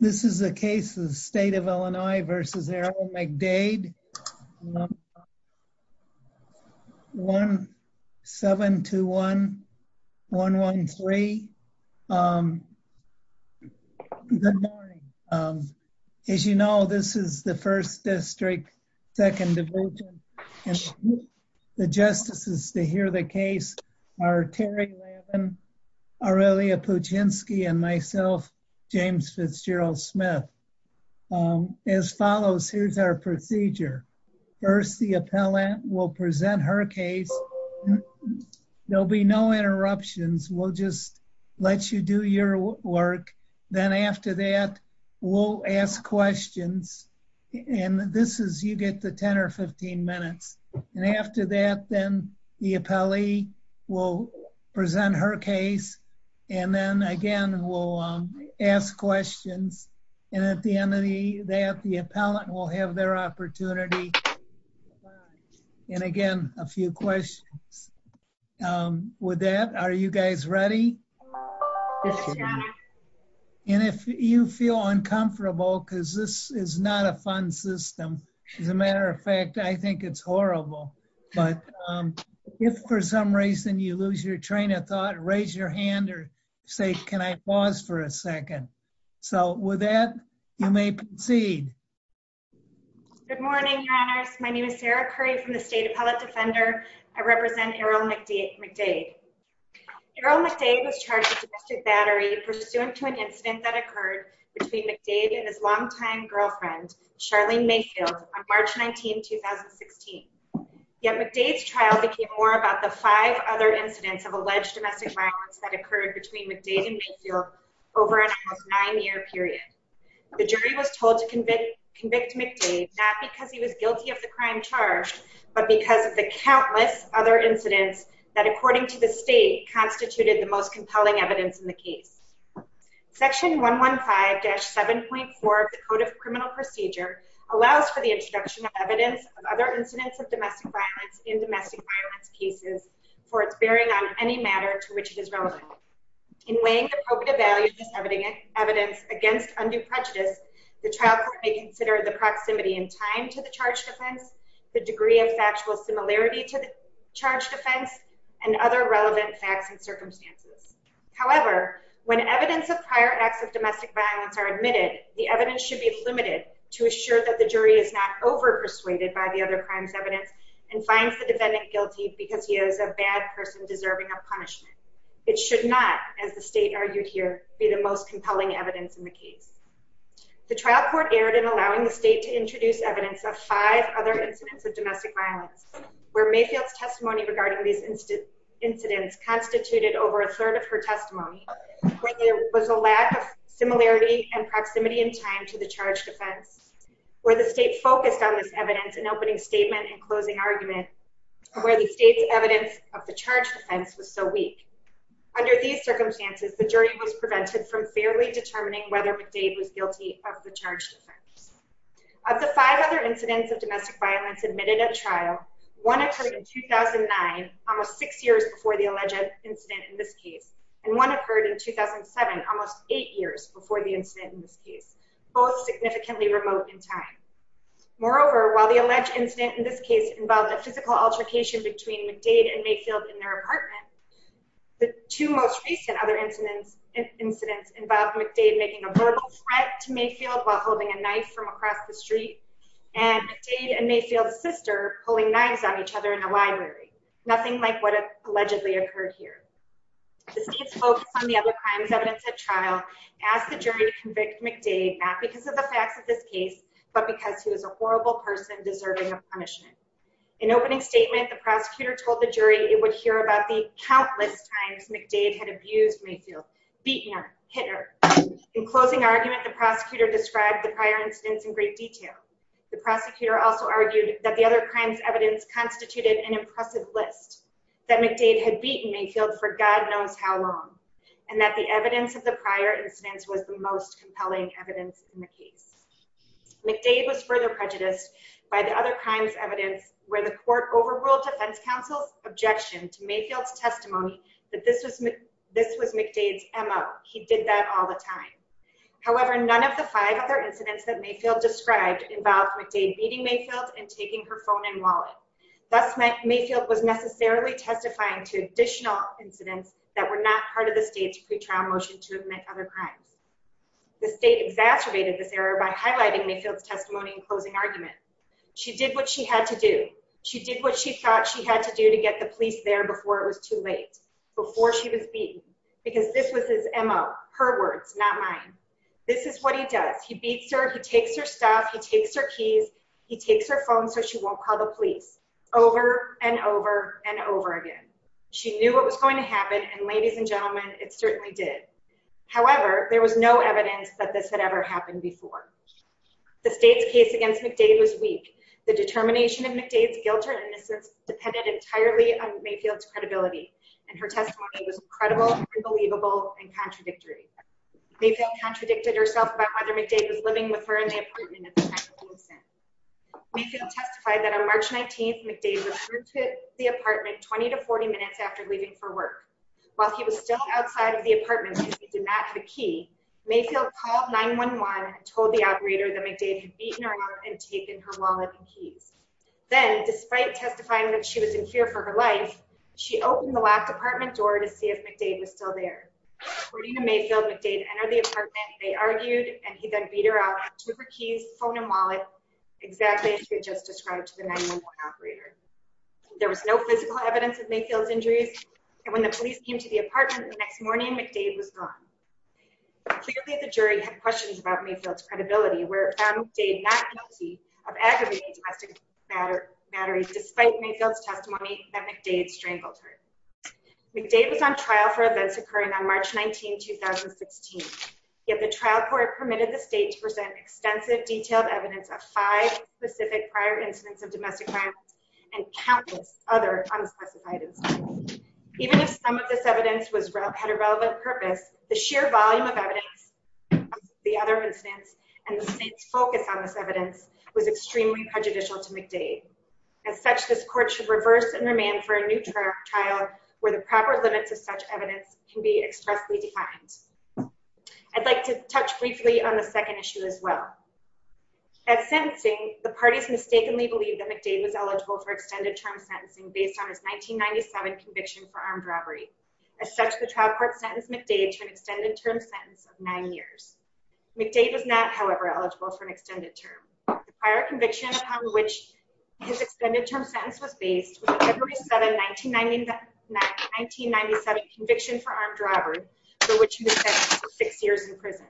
This is a case of the State of Illinois v. Errol McDade, 1-7-21-113. Good morning. As you know, this is the 1st District, 2nd Division, and the justices to hear the case are Terry Levin, Aurelia Puchinski, and myself, James Fitzgerald Smith. As follows, here's our procedure. First, the appellant will present her case. There'll be no interruptions. We'll just let you do your work. Then after that, we'll ask questions. And this is, you get the 10 or 15 minutes. And after that, then the appellee will present her case. And then again, we'll ask questions. And at the end of the day that the appellant will have their opportunity. And again, a few questions. With that, are you guys ready? And if you feel uncomfortable, because this is not a fun system. As a matter of fact, I think it's horrible. But if for some reason you lose your train of thought, raise your hand or say, can I pause for a second? So with that, you may proceed. Good morning, Your Honors. My name is Sarah Curry from the State Appellate Defender. I represent Errol McDade. Errol McDade was charged with domestic battery pursuant to an incident that occurred between McDade and his longtime girlfriend, Charlene Mayfield, on March 19, 2016. Yet McDade's trial became more about the five other incidents of alleged domestic violence that occurred between McDade and Mayfield over a nine-year period. The jury was told to convict McDade, not because he was guilty of the crime charged, but because of the countless other incidents that, according to the state, constituted the most compelling evidence in the case. Section 115-7.4 of the Code of Criminal Procedure allows for the introduction of evidence of other incidents of domestic violence in domestic violence cases for its bearing on any matter to which it is relevant. In weighing the probative value of this evidence against undue prejudice, the trial court may consider the proximity in time to the charged offense, the degree of factual similarity to the charged offense, and other relevant facts and circumstances. However, when evidence of prior acts of domestic violence are admitted, the evidence should be limited to assure that the jury is not over-persuaded by the other crime's evidence and finds the defendant guilty because he is a bad person deserving of punishment. It should not, as the state argued here, be the most compelling evidence in the case. The trial court erred in allowing the state to introduce evidence of five other incidents of domestic violence, where Mayfield's testimony regarding these incidents constituted over a third of her testimony, where there was a lack of similarity and proximity in time to the charged offense, where the state focused on this evidence in opening statement and closing argument, where the state's evidence of the charged offense was so weak. Under these circumstances, the jury was prevented from fairly determining whether McDade was guilty of the charged offense. Of the five other incidents of domestic violence admitted at trial, one occurred in 2009, almost six years before the alleged incident in this case, and one occurred in 2007, almost eight years before the incident in this case, both significantly remote in time. Moreover, while the alleged incident in this case involved a physical altercation between McDade and Mayfield in their apartment, the two most recent other incidents involved McDade making a verbal threat to Mayfield while holding a knife from across the street and McDade and Mayfield's sister pulling knives on each other in the library, nothing like what allegedly occurred here. The state's focus on the other crimes evidence at trial asked the jury to convict McDade, not because of the facts of this case, but because he was a horrible person deserving of punishment. In opening statement, the prosecutor told the jury it would hear about the countless times McDade had abused Mayfield, beaten her, hit her. In closing argument, the prosecutor described the prior incidents in great detail. The prosecutor also argued that the other crimes evidence constituted an impressive list, that McDade had beaten Mayfield for God knows how long, and that the evidence of the prior incidents was the most compelling evidence in the case. McDade was further prejudiced by the other crimes evidence where the court overruled defense counsel's objection to Mayfield's testimony that this was this was McDade's MO. He did that all the time. However, none of the five other incidents that Mayfield described involved McDade beating Mayfield and taking her phone and wallet. Thus, Mayfield was necessarily testifying to additional incidents that were not part of the state's pretrial motion to admit other crimes. The state exacerbated this error by highlighting Mayfield's closing argument. She did what she had to do. She did what she thought she had to do to get the police there before it was too late, before she was beaten, because this was his MO, her words, not mine. This is what he does. He beats her, he takes her stuff, he takes her keys, he takes her phone so she won't call the police over and over and over again. She knew what was going to happen, and ladies and gentlemen, it certainly did. However, there was no evidence that this had happened before. The state's case against McDade was weak. The determination of McDade's guilt or innocence depended entirely on Mayfield's credibility, and her testimony was incredible, unbelievable, and contradictory. Mayfield contradicted herself by whether McDade was living with her in the apartment at the time of the incident. Mayfield testified that on March 19th, McDade returned to the apartment 20 to 40 minutes after leaving for work. While he was still outside the apartment, he did not have a key. Mayfield called 9-1-1 and told the operator that McDade had beaten her up and taken her wallet and keys. Then, despite testifying that she was in here for her life, she opened the left apartment door to see if McDade was still there. According to Mayfield, McDade entered the apartment, they argued, and he then beat her up, took her keys, phone, and wallet, exactly as she had just described to the 9-1-1 operator. There was no physical evidence of was gone. Clearly, the jury had questions about Mayfield's credibility, where it found McDade not guilty of aggravating domestic matter mattering, despite Mayfield's testimony that McDade strangled her. McDade was on trial for events occurring on March 19, 2016, yet the trial court permitted the state to present extensive detailed evidence of five specific prior incidents of domestic violence and countless other unspecified incidents. Even if some of this evidence had a relevant purpose, the sheer volume of evidence of the other incidents and the state's focus on this evidence was extremely prejudicial to McDade. As such, this court should reverse and remand for a new trial where the proper limits of such evidence can be expressly defined. I'd like to touch briefly on the second issue as well. At sentencing, the parties mistakenly believed that McDade was eligible for extended term sentencing based on his 1997 conviction for armed robbery. As such, the trial court sentenced McDade to an extended term sentence of nine years. McDade was not, however, eligible for an extended term. The prior conviction upon which his extended term sentence was based was a February 7, 1997 conviction for armed robbery for which he was sentenced to six years in prison.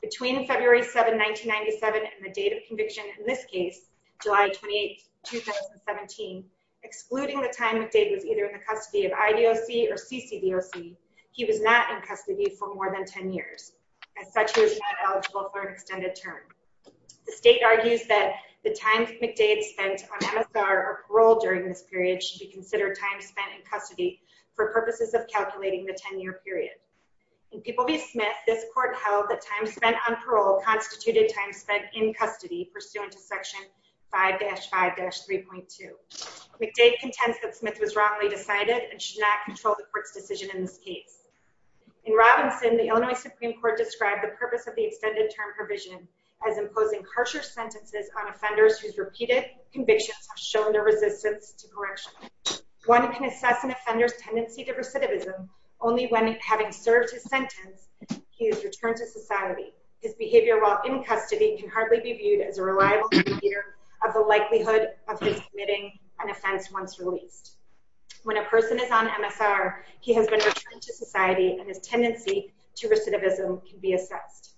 Between February 7, 1997 and the date of conviction, in this case, July 28, 2017, excluding the time McDade was either in the custody of IDOC or CCDOC, he was not in custody for more than 10 years. As such, he was not eligible for an extended term. The state argues that the time McDade spent on MSR or parole during this period should be considered time spent in custody for purposes of calculating the 10-year period. In Peabody Smith, this court held that time spent on parole constituted time spent in custody pursuant to section 5-5-3.2. McDade contends that Smith was wrongly decided and should not control the court's decision in this case. In Robinson, the Illinois Supreme Court described the purpose of the extended term provision as imposing harsher sentences on offenders whose repeated convictions have shown their resistance to correction. One can assess an offender's tendency to recidivism only when, having served his sentence, he has returned to society. His behavior while in custody can hardly be viewed as a reliable indicator of the likelihood of his committing an offense once released. When a person is on MSR, he has been returned to society, and his tendency to recidivism can be assessed.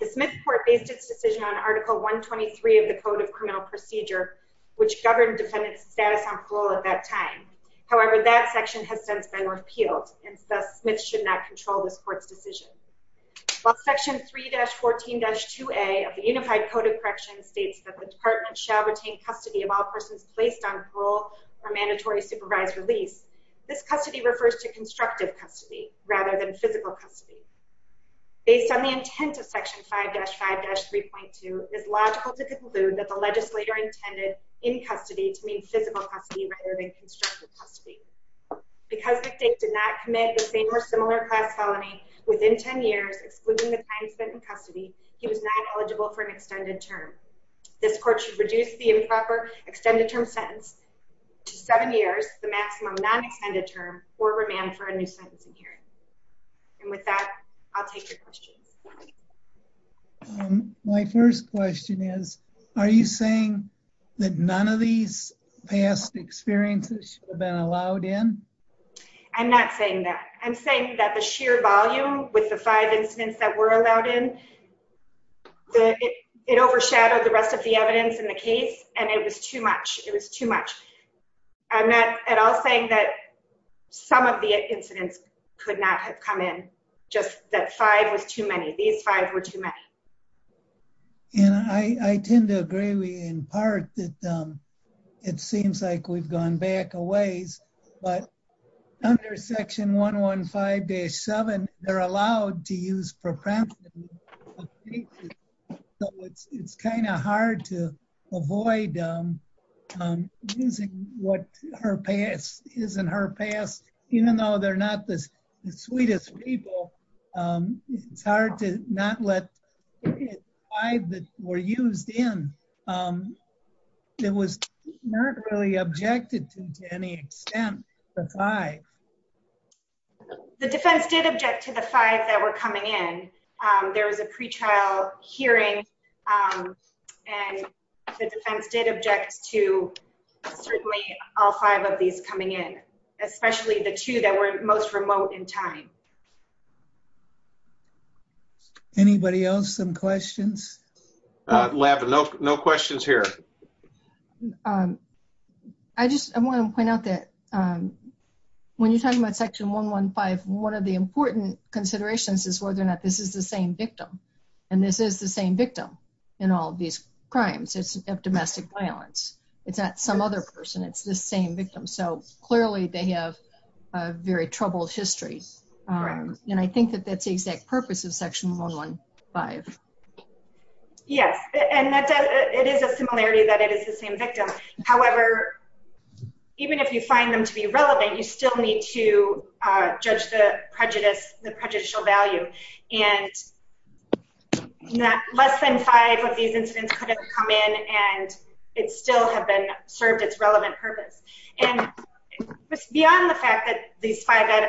The Smith court based its decision on Article 123 of the Code of Criminal Procedure, which governed defendant's status on parole at that time. However, that section has since been repealed, and thus Smith should not control this court's decision. While section 3-14-2A of the Unified Code of Correction states that the department shall retain custody of all persons placed on parole for mandatory supervised release, this custody refers to constructive custody rather than physical custody. Based on the intent of section 5-5-3.2, it is logical to conclude that the legislator intended in custody to mean physical custody rather than constructive custody. Because the victim did not commit the same or similar class felony within 10 years, excluding the time spent in custody, he was not eligible for an extended term. This court should reduce the improper extended term sentence to seven years, the maximum non-extended term, or remand for a new sentencing hearing. And with that, I'll take your questions. My first question is, are you saying that none of these past experiences have been allowed in? I'm not saying that. I'm saying that the sheer volume with the five incidents that were allowed in, it overshadowed the rest of the evidence in the case, and it was too much. It was too much. I'm not at all saying that some of the incidents could not have come in, just that five was too many. These five were too many. And I tend to agree with you in part that it seems like we've gone back a ways, but under section 115-7, they're allowed to use preemptive. It's kind of hard to avoid using what her past is in her past, even though they're not the sweetest people. It's hard to not let five that were used in. It was not really objected to, to any extent, the five. The defense did object to the five that were coming in. There was a pre-trial hearing, and the defense did object to certainly all five of these coming in, especially the two that were most remote in time. Anybody else have questions? Lavin, no questions here. I just want to point out that when you're talking about section 115, one of the important considerations is whether or not this is the same victim, and this is the same victim in all these crimes of domestic violence. It's not some other person. It's the same victim. So, clearly, they have a very troubled history, and I think that that's the exact purpose of section 115. Yes, and it is a similarity that it is the same victim. However, even if you find them to be relevant, you still need to judge the prejudicial value, and less than five of these incidents could have come in, and it still have served its relevant purpose. Beyond the fact that these five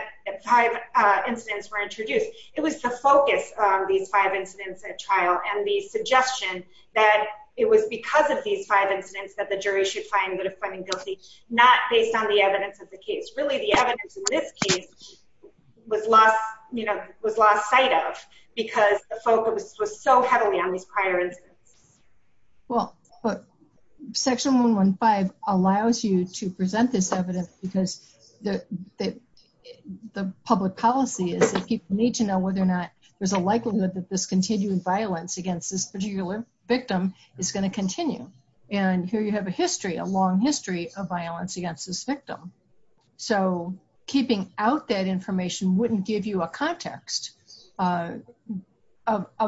incidents were introduced, it was the focus of these five incidents at trial and the suggestion that it was because of these five incidents that the jury should find them guilty, not based on the evidence of the case. Really, the evidence in this case was lost sight of because the focus was so heavily on these prior incidents. Well, but section 115 allows you to present this evidence because the public policy is that people need to know whether or not there's a likelihood that this continuing violence against this particular victim is going to continue, and here you have a history, a long history of violence against this victim. So, keeping out that information wouldn't give you a context of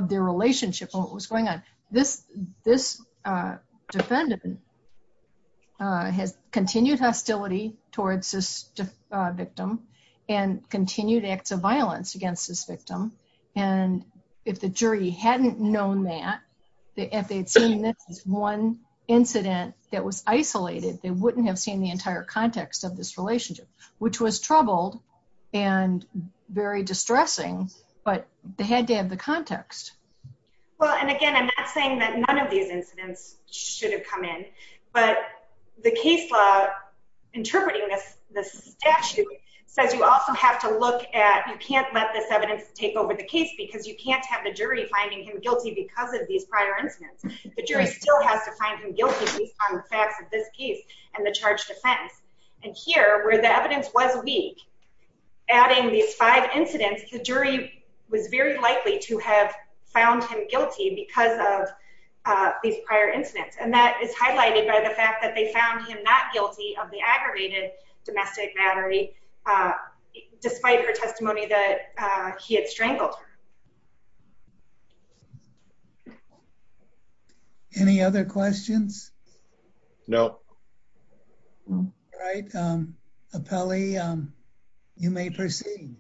their relationship and what was going on. This defendant has continued hostility towards this victim and continued acts of violence against this victim, and if the jury hadn't known that, if they'd seen this as one incident that was isolated, they wouldn't have seen the entire context of this relationship, which was troubled and very distressing to the jury. But they had to have the context. Well, and again, I'm not saying that none of these incidents should have come in, but the case law interpreting this statute says you also have to look at, you can't let this evidence take over the case because you can't have the jury finding him guilty because of these prior incidents. The jury still has to find him guilty based on the facts of this case and the charge defense, and here, where the evidence was weak, adding these five incidents, the jury was very likely to have found him guilty because of these prior incidents, and that is highlighted by the fact that they found him not guilty of the aggravated domestic battery, despite her testimony that he had strangled her. Any other questions? No. All right. Appellee, you may proceed.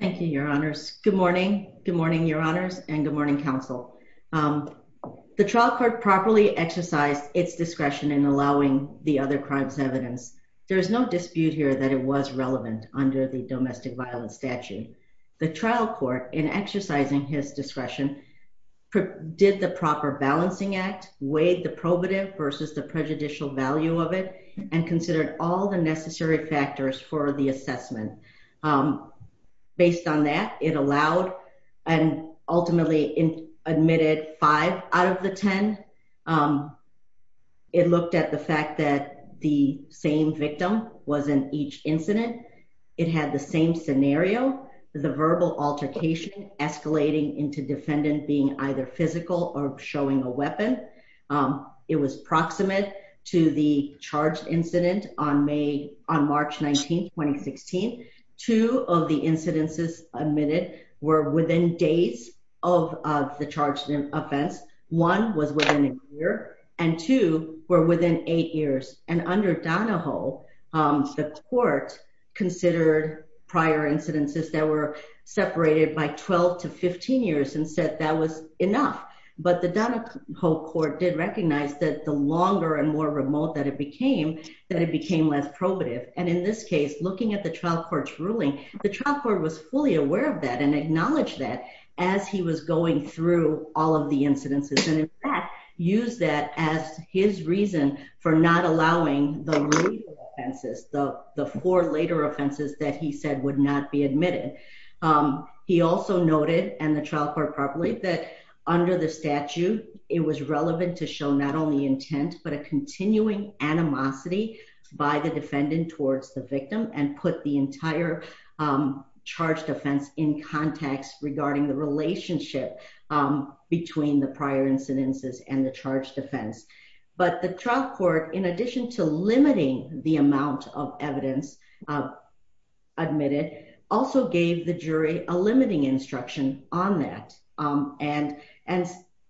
Thank you, your honors. Good morning. Good morning, your honors, and good morning, counsel. The trial court properly exercised its discretion in allowing the other crimes evidence. There is no dispute here that it was relevant under the proper balancing act, weighed the probative versus the prejudicial value of it, and considered all the necessary factors for the assessment. Based on that, it allowed and ultimately admitted five out of the ten. It looked at the fact that the same victim was in each incident. It had the same showing a weapon. It was proximate to the charged incident on March 19, 2016. Two of the incidences admitted were within days of the charged offense. One was within a year, and two were within eight years, and under Donahoe, the court considered prior incidences that were prior. The Donahoe court did recognize that the longer and more remote that it became, that it became less probative, and in this case, looking at the trial court's ruling, the trial court was fully aware of that and acknowledged that as he was going through all of the incidences, and in fact, used that as his reason for not allowing the legal offenses, the four later offenses that he said would not be admitted. He also noted, and the trial court that under the statute, it was relevant to show not only intent, but a continuing animosity by the defendant towards the victim and put the entire charged offense in context regarding the relationship between the prior incidences and the charged offense, but the trial court, in addition to limiting the amount of evidence admitted, also gave the jury a limiting instruction on that. And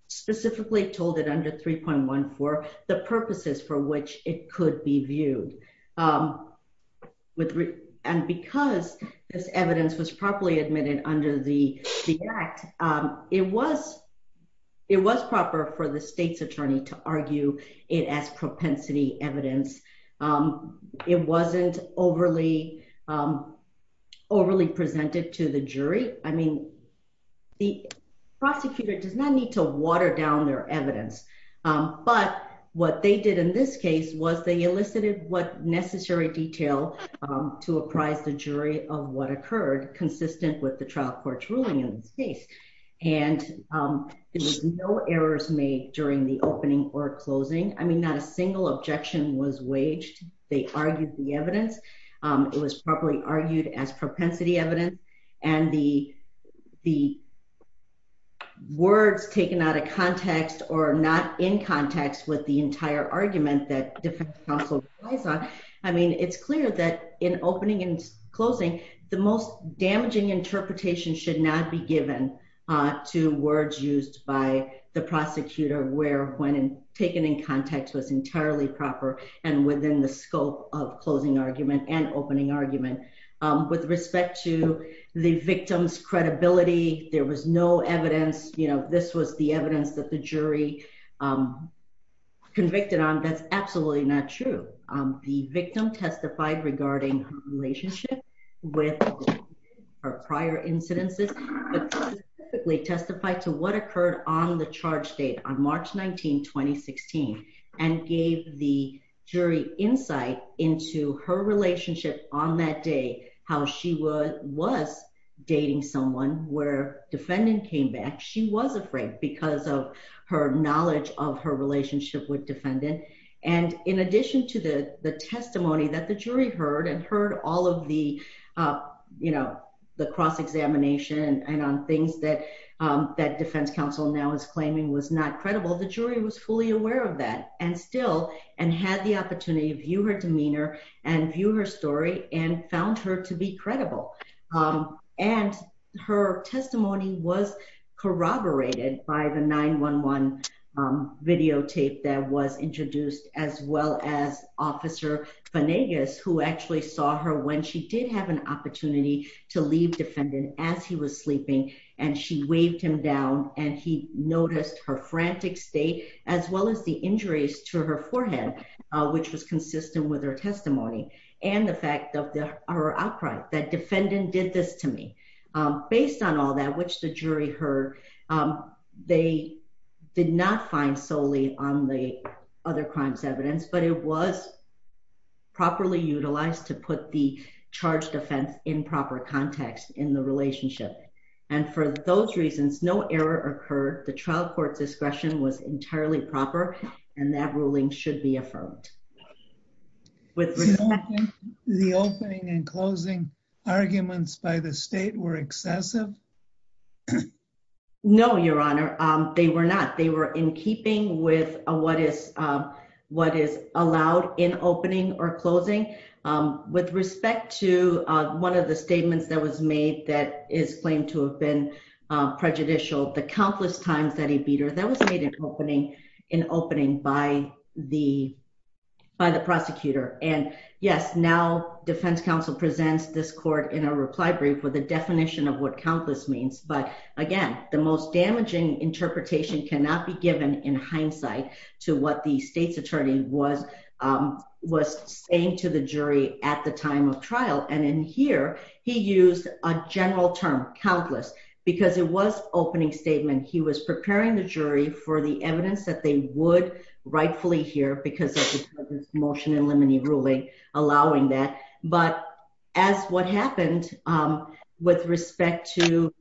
specifically told it under 3.14, the purposes for which it could be viewed. And because this evidence was properly admitted under the act, it was proper for the state's attorney to argue it as propensity evidence. It wasn't overly presented to the jury. I mean, prosecutor does not need to water down their evidence, but what they did in this case was they elicited what necessary detail to apprise the jury of what occurred consistent with the trial court's ruling in this case, and there was no errors made during the opening or closing. I mean, not a single objection was waged. They argued the evidence. It was properly argued as propensity evidence. And when you see words taken out of context or not in context with the entire argument that defense counsel relies on, I mean, it's clear that in opening and closing, the most damaging interpretation should not be given to words used by the prosecutor where when taken in context was entirely proper and within the scope of closing argument and opening argument. With respect to the victim's credibility, there was no evidence, you know, this was the evidence that the jury convicted on. That's absolutely not true. The victim testified regarding her relationship with her prior incidences, but specifically testified to what occurred on the how she was dating someone where defendant came back. She was afraid because of her knowledge of her relationship with defendant. And in addition to the testimony that the jury heard and heard all of the, you know, the cross-examination and on things that defense counsel now is claiming was not credible, the jury was fully aware of that and still and had the opportunity to view her demeanor and view her story and found her to be credible. And her testimony was corroborated by the 911 videotape that was introduced, as well as Officer Vanegas, who actually saw her when she did have an opportunity to leave defendant as he was sleeping, and she waved him down and he injuries to her forehead, which was consistent with her testimony, and the fact of her outcry, that defendant did this to me. Based on all that, which the jury heard, they did not find solely on the other crimes evidence, but it was properly utilized to put the charged offense in proper context in the relationship. And for those reasons, no error occurred. The trial court discretion was and that ruling should be affirmed. The opening and closing arguments by the state were excessive? No, Your Honor, they were not. They were in keeping with what is what is allowed in opening or closing. With respect to one of the statements that was made that is claimed to have been prejudicial, the countless times that he beat her, that was made an opening in opening by the by the prosecutor. And yes, now, Defense Counsel presents this court in a reply brief with a definition of what countless means. But again, the most damaging interpretation cannot be given in hindsight to what the state's attorney was, was saying to the jury at the time of trial. And in here, he used a general term countless, because it was opening statement, he was preparing the jury for the evidence that they would rightfully hear because of this motion in limine ruling, allowing that. But as what happened, with respect to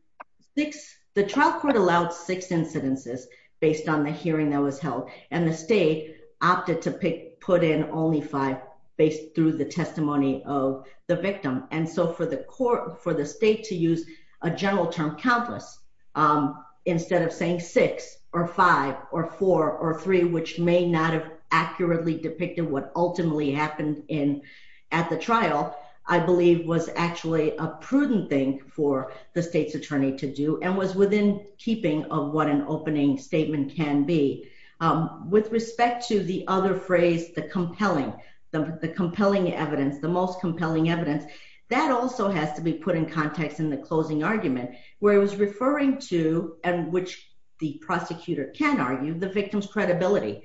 six, the trial court allowed six incidences based on the hearing that was held, and the state opted to pick put in only five based through the testimony of the victim. And so for the court for the state to use a general term countless, instead of saying six or five or four or three, which may not have accurately depicted what ultimately happened in at the trial, I believe was actually a prudent thing for the state's attorney to do and was within keeping of what an opening statement can be. With respect to the other phrase, the compelling, the compelling evidence, the most compelling evidence that also has to be put in context in the closing argument, where it was referring to and which the prosecutor can argue the victim's credibility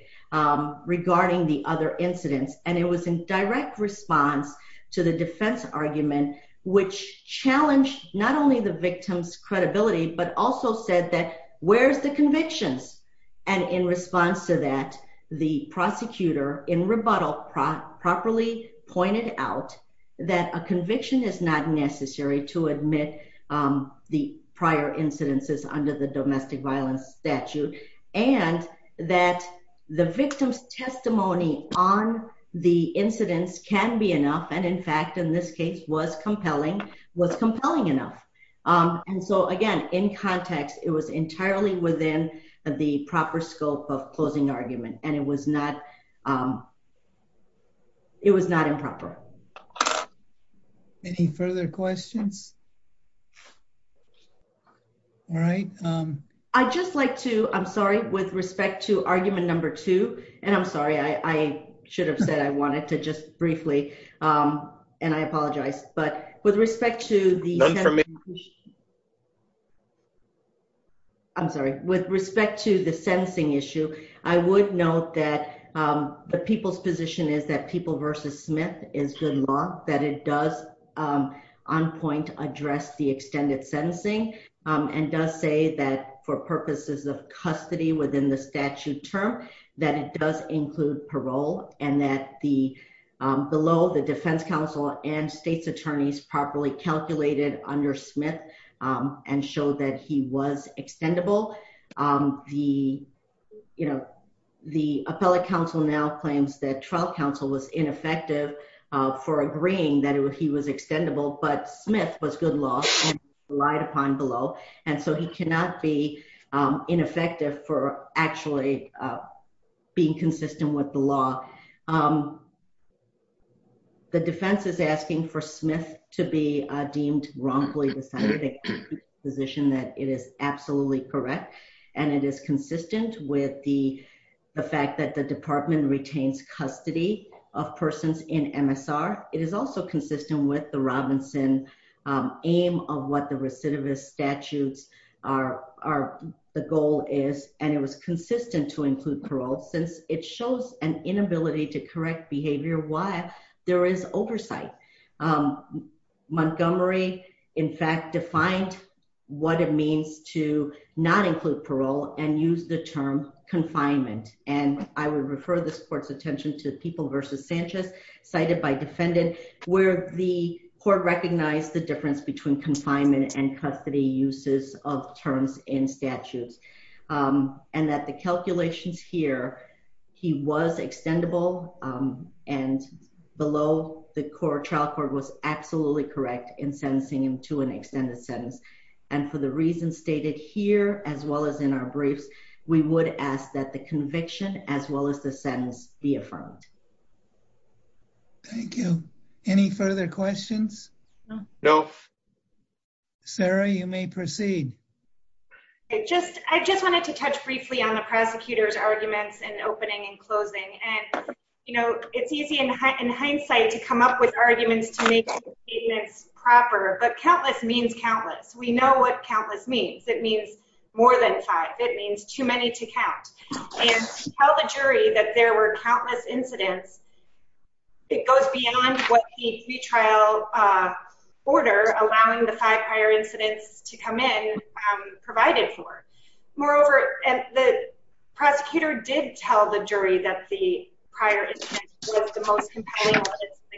regarding the other incidents. And it was in direct response to the defense argument, which challenged not only the victim's credibility, but also said that where's the convictions. And in response to that, the prosecutor in rebuttal properly pointed out that a conviction is not necessary to admit the prior incidences under the domestic violence statute, and that the victim's testimony on the incidents can be enough. And in fact, in this case was compelling, was compelling enough. And so again, in context, it was entirely within the proper scope of closing argument, and it was not it was not improper. Any further questions? All right. I just like to I'm sorry, with respect to argument number two, and I'm sorry, I should have said I wanted to just briefly, and I apologize, but with respect to the I'm sorry, with respect to the sentencing issue, I would note that the people's position is that people versus Smith is good law, that it does on point address the extended sentencing, and does say that for purposes of custody within the statute term, that it does include parole, and that the below the defense counsel and state's attorneys properly calculated under Smith, and showed that he was extendable. The, you know, the appellate counsel now claims that trial counsel was ineffective for agreeing that he was extendable, but Smith was good law, relied upon below. And so he cannot be ineffective for actually being consistent with the law. Um, the defense is asking for Smith to be deemed wrongfully decided position that it is absolutely correct. And it is consistent with the fact that the department retains custody of persons in MSR. It is also consistent with the Robinson aim of what the recidivist statutes are, the goal is, and it was consistent to include parole, since it shows an inability to correct behavior, why there is oversight. Montgomery, in fact, defined what it means to not include parole and use the term confinement. And I would refer this court's attention to people versus Sanchez, cited by defendant, where the court recognized the difference between confinement and custody uses of terms in statutes. Um, and that the calculations here, he was extendable, um, and below the core trial court was absolutely correct in sentencing him to an extended sentence. And for the reasons stated here, as well as in our briefs, we would ask that the conviction as well as the sentence be affirmed. Thank you. Any further questions? No. Sarah, you may proceed. I just, I just wanted to touch briefly on the prosecutor's arguments and opening and closing. And, you know, it's easy in hindsight to come up with arguments to make statements proper, but countless means countless. We know what countless means. It means more than five. It means too many to count and tell the jury that there were countless incidents. It goes beyond what the retrial, uh, order allowing the five prior incidents to come in, um, provided for moreover. And the prosecutor did tell the jury that the prior was the most compelling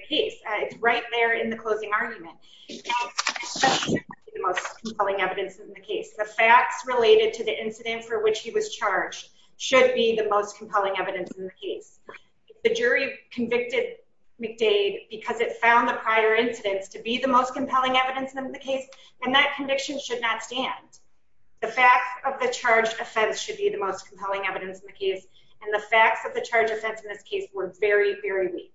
case right there in the closing argument, the most compelling evidence in the case, the facts related to the incident for which he was charged should be the most compelling evidence in the case. The jury convicted McDade because it found the prior incidents to be the most compelling evidence in the case. And that conviction should not stand. The fact of the charge offense should be the most compelling evidence in the case. And the facts of the charge offense in this case were very, very weak.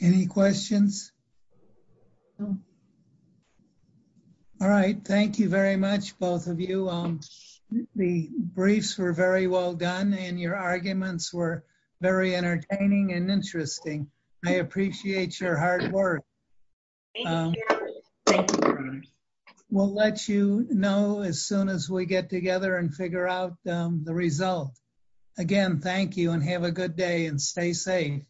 Any questions? No. All right. Thank you very much, both of you. Um, the briefs very well done and your arguments were very entertaining and interesting. I appreciate your hard work. Um, we'll let you know as soon as we get together and figure out, um, the result again. Thank you and have a good day and stay safe.